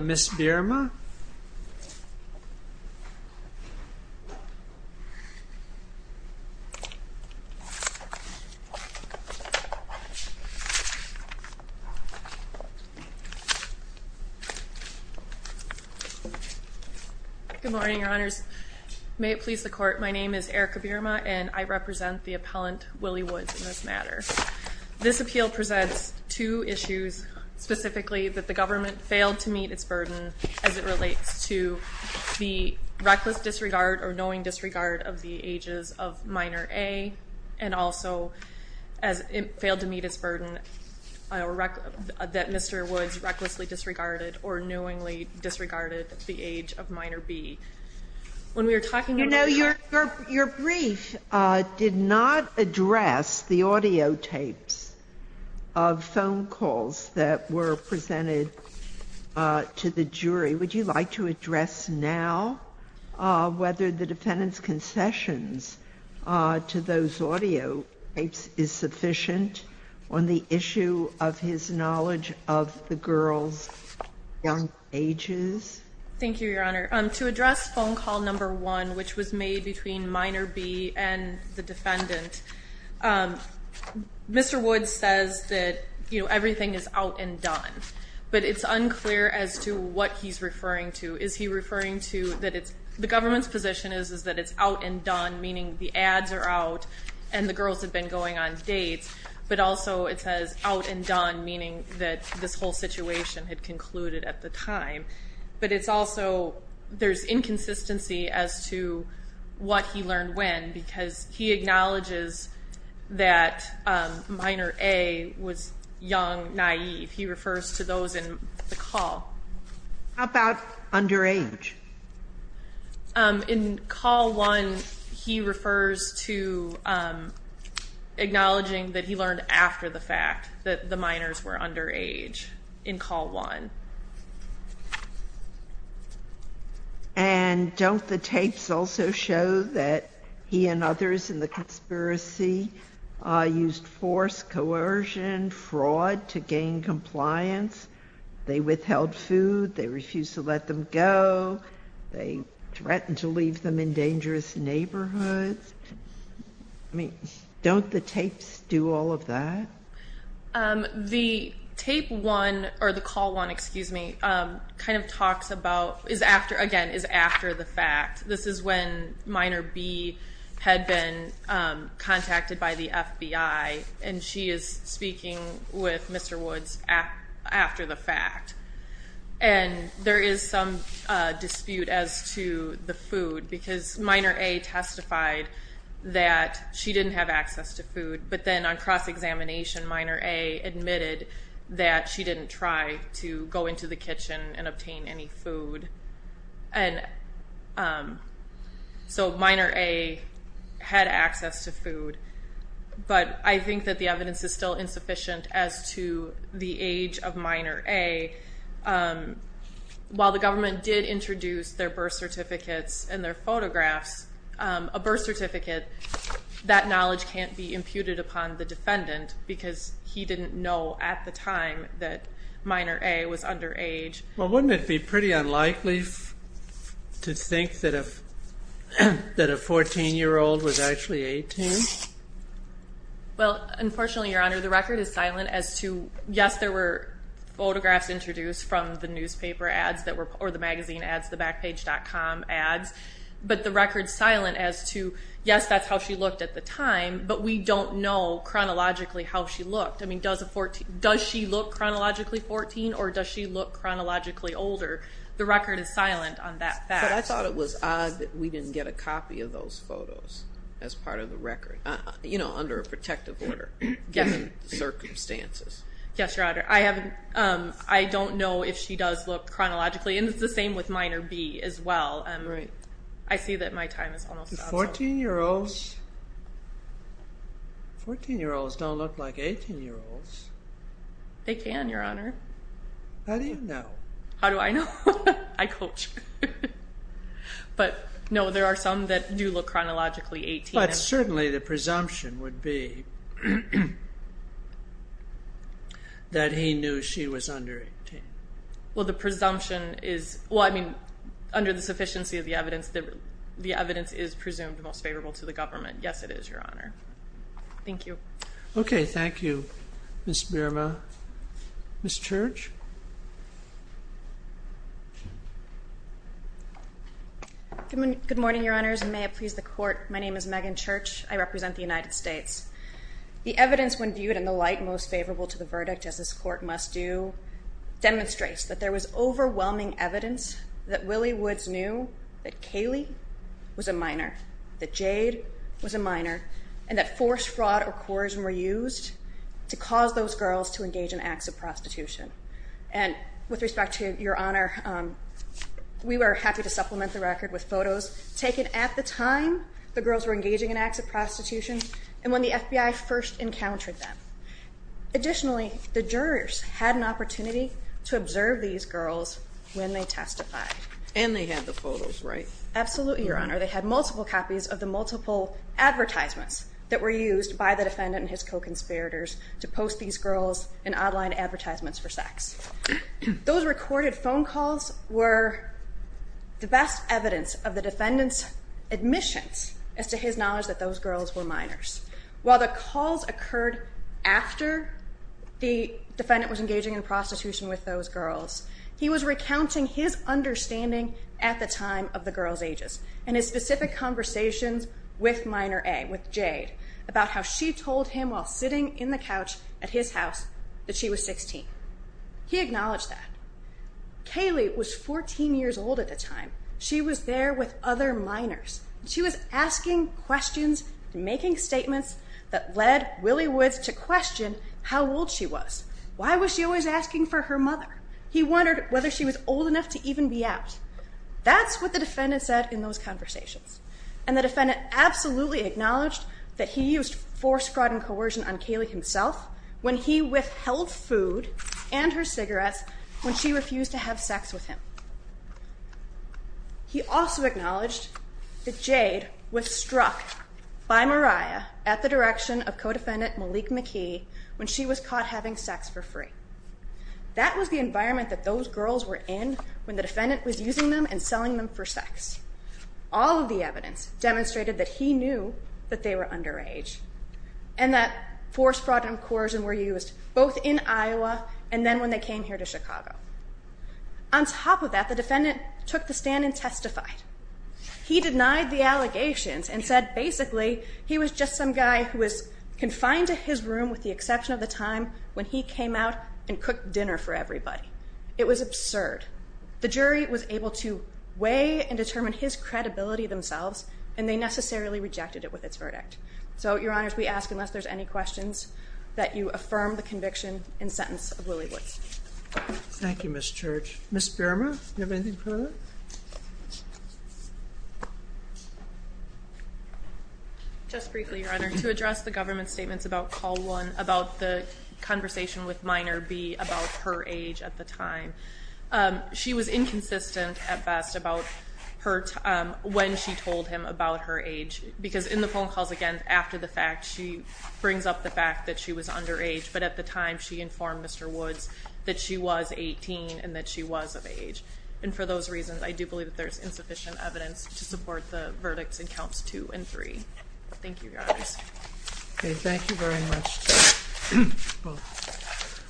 Ms. Birma? Good morning, Your Honors. May it please the Court, my name is Erica Birma and I represent the appellant, Willie Woods, in this matter. This appeal presents two issues, specifically that the government failed to meet its burden as it relates to the reckless disregard or knowing disregard of the ages of minor A and also as it failed to meet its burden that Mr. Woods recklessly disregarded or knowingly disregarded the age of minor B. When we were talking about the jury. Your brief did not address the audiotapes of phone calls that were presented to the jury. Would you like to address now whether the defendant's concessions to those audiotapes is sufficient on the issue of his knowledge of the girls' young ages? Thank you, Your Honor. To address phone call number one, which was made between minor B and the defendant, Mr. Woods says that everything is out and done, but it's unclear as to what he's referring to. Is he referring to that the government's position is that it's out and done, meaning the ads are out and the girls have been going on dates, but also it says out and done, meaning that this whole situation had concluded at the time. But it's also there's inconsistency as to what he learned when, because he acknowledges that minor A was young, naive. He refers to those in the call. How about underage? In call one, he refers to acknowledging that he learned after the fact that the minors were underage in call one. And don't the tapes also show that he and others in the conspiracy used force, coercion, fraud to gain compliance? They withheld food. They refused to let them go. They threatened to leave them in dangerous neighborhoods. I mean, don't the tapes do all of that? The tape one, or the call one, excuse me, kind of talks about is after, again, is after the fact. This is when minor B had been contacted by the FBI, and she is speaking with Mr. Woods after the fact. And there is some dispute as to the food, because minor A testified that she didn't have access to food. But then on cross-examination, minor A admitted that she didn't try to go into the kitchen and obtain any food. And so minor A had access to food. But I think that the evidence is still insufficient as to the age of minor A. While the government did introduce their birth certificates and their photographs, a birth certificate, that knowledge can't be imputed upon the defendant because he didn't know at the time that minor A was underage. Well, wouldn't it be pretty unlikely to think that a 14-year-old was actually 18? Well, unfortunately, Your Honor, the record is silent as to, yes, there were photographs introduced from the newspaper ads or the magazine ads, the Backpage.com ads, but the record's silent as to, yes, that's how she looked at the time, but we don't know chronologically how she looked. I mean, does she look chronologically 14 or does she look chronologically older? The record is silent on that fact. But I thought it was odd that we didn't get a copy of those photos as part of the record, you know, under a protective order given the circumstances. Yes, Your Honor. I don't know if she does look chronologically, and it's the same with minor B as well. I see that my time is almost up. 14-year-olds don't look like 18-year-olds. They can, Your Honor. How do you know? How do I know? I coach. But, no, there are some that do look chronologically 18. But certainly the presumption would be that he knew she was under 18. Well, the presumption is, well, I mean, under the sufficiency of the evidence, the evidence is presumed most favorable to the government. Yes, it is, Your Honor. Thank you. Okay, thank you, Ms. Birma. Ms. Church? Good morning, Your Honors, and may it please the Court, my name is Megan Church. I represent the United States. The evidence when viewed in the light most favorable to the verdict, as this Court must do, demonstrates that there was overwhelming evidence that Willie Woods knew that Kaylee was a minor, that Jade was a minor, and that forced fraud or coercion were used to cause those girls to engage in acts of prostitution. And with respect to Your Honor, we were happy to supplement the record with photos taken at the time the girls were engaging in acts of prostitution. And when the FBI first encountered them. Additionally, the jurors had an opportunity to observe these girls when they testified. And they had the photos, right? Absolutely, Your Honor. They had multiple copies of the multiple advertisements that were used by the defendant and his co-conspirators to post these girls in online advertisements for sex. Those recorded phone calls were the best evidence of the defendant's admissions as to his knowledge that those girls were minors. While the calls occurred after the defendant was engaging in prostitution with those girls, he was recounting his understanding at the time of the girls' ages and his specific conversations with minor A, with Jade, about how she told him while sitting in the couch at his house that she was 16. He acknowledged that. Kaylee was 14 years old at the time. She was there with other minors. She was asking questions and making statements that led Willie Woods to question how old she was. Why was she always asking for her mother? He wondered whether she was old enough to even be out. That's what the defendant said in those conversations. And the defendant absolutely acknowledged that he used force, fraud, and coercion on Kaylee himself when he withheld food and her cigarettes when she refused to have sex with him. He also acknowledged that Jade was struck by Mariah at the direction of co-defendant Malik McKee when she was caught having sex for free. That was the environment that those girls were in when the defendant was using them and selling them for sex. All of the evidence demonstrated that he knew that they were underage and that force, fraud, and coercion were used both in Iowa and then when they came here to Chicago. On top of that, the defendant took the stand and testified. He denied the allegations and said basically he was just some guy who was confined to his room with the exception of the time when he came out and cooked dinner for everybody. It was absurd. The jury was able to weigh and determine his credibility themselves, and they necessarily rejected it with its verdict. So, Your Honors, we ask unless there's any questions that you affirm the conviction and sentence of Willie Woods. Thank you, Ms. Church. Ms. Birmer, do you have anything further? Just briefly, Your Honor, to address the government's statements about call one, about the conversation with minor B about her age at the time. She was inconsistent at best about when she told him about her age because in the phone calls, again, after the fact, she brings up the fact that she was underage. But at the time, she informed Mr. Woods that she was 18 and that she was of age. And for those reasons, I do believe that there's insufficient evidence to support the verdicts in counts two and three. Thank you, Your Honors. Okay, thank you very much.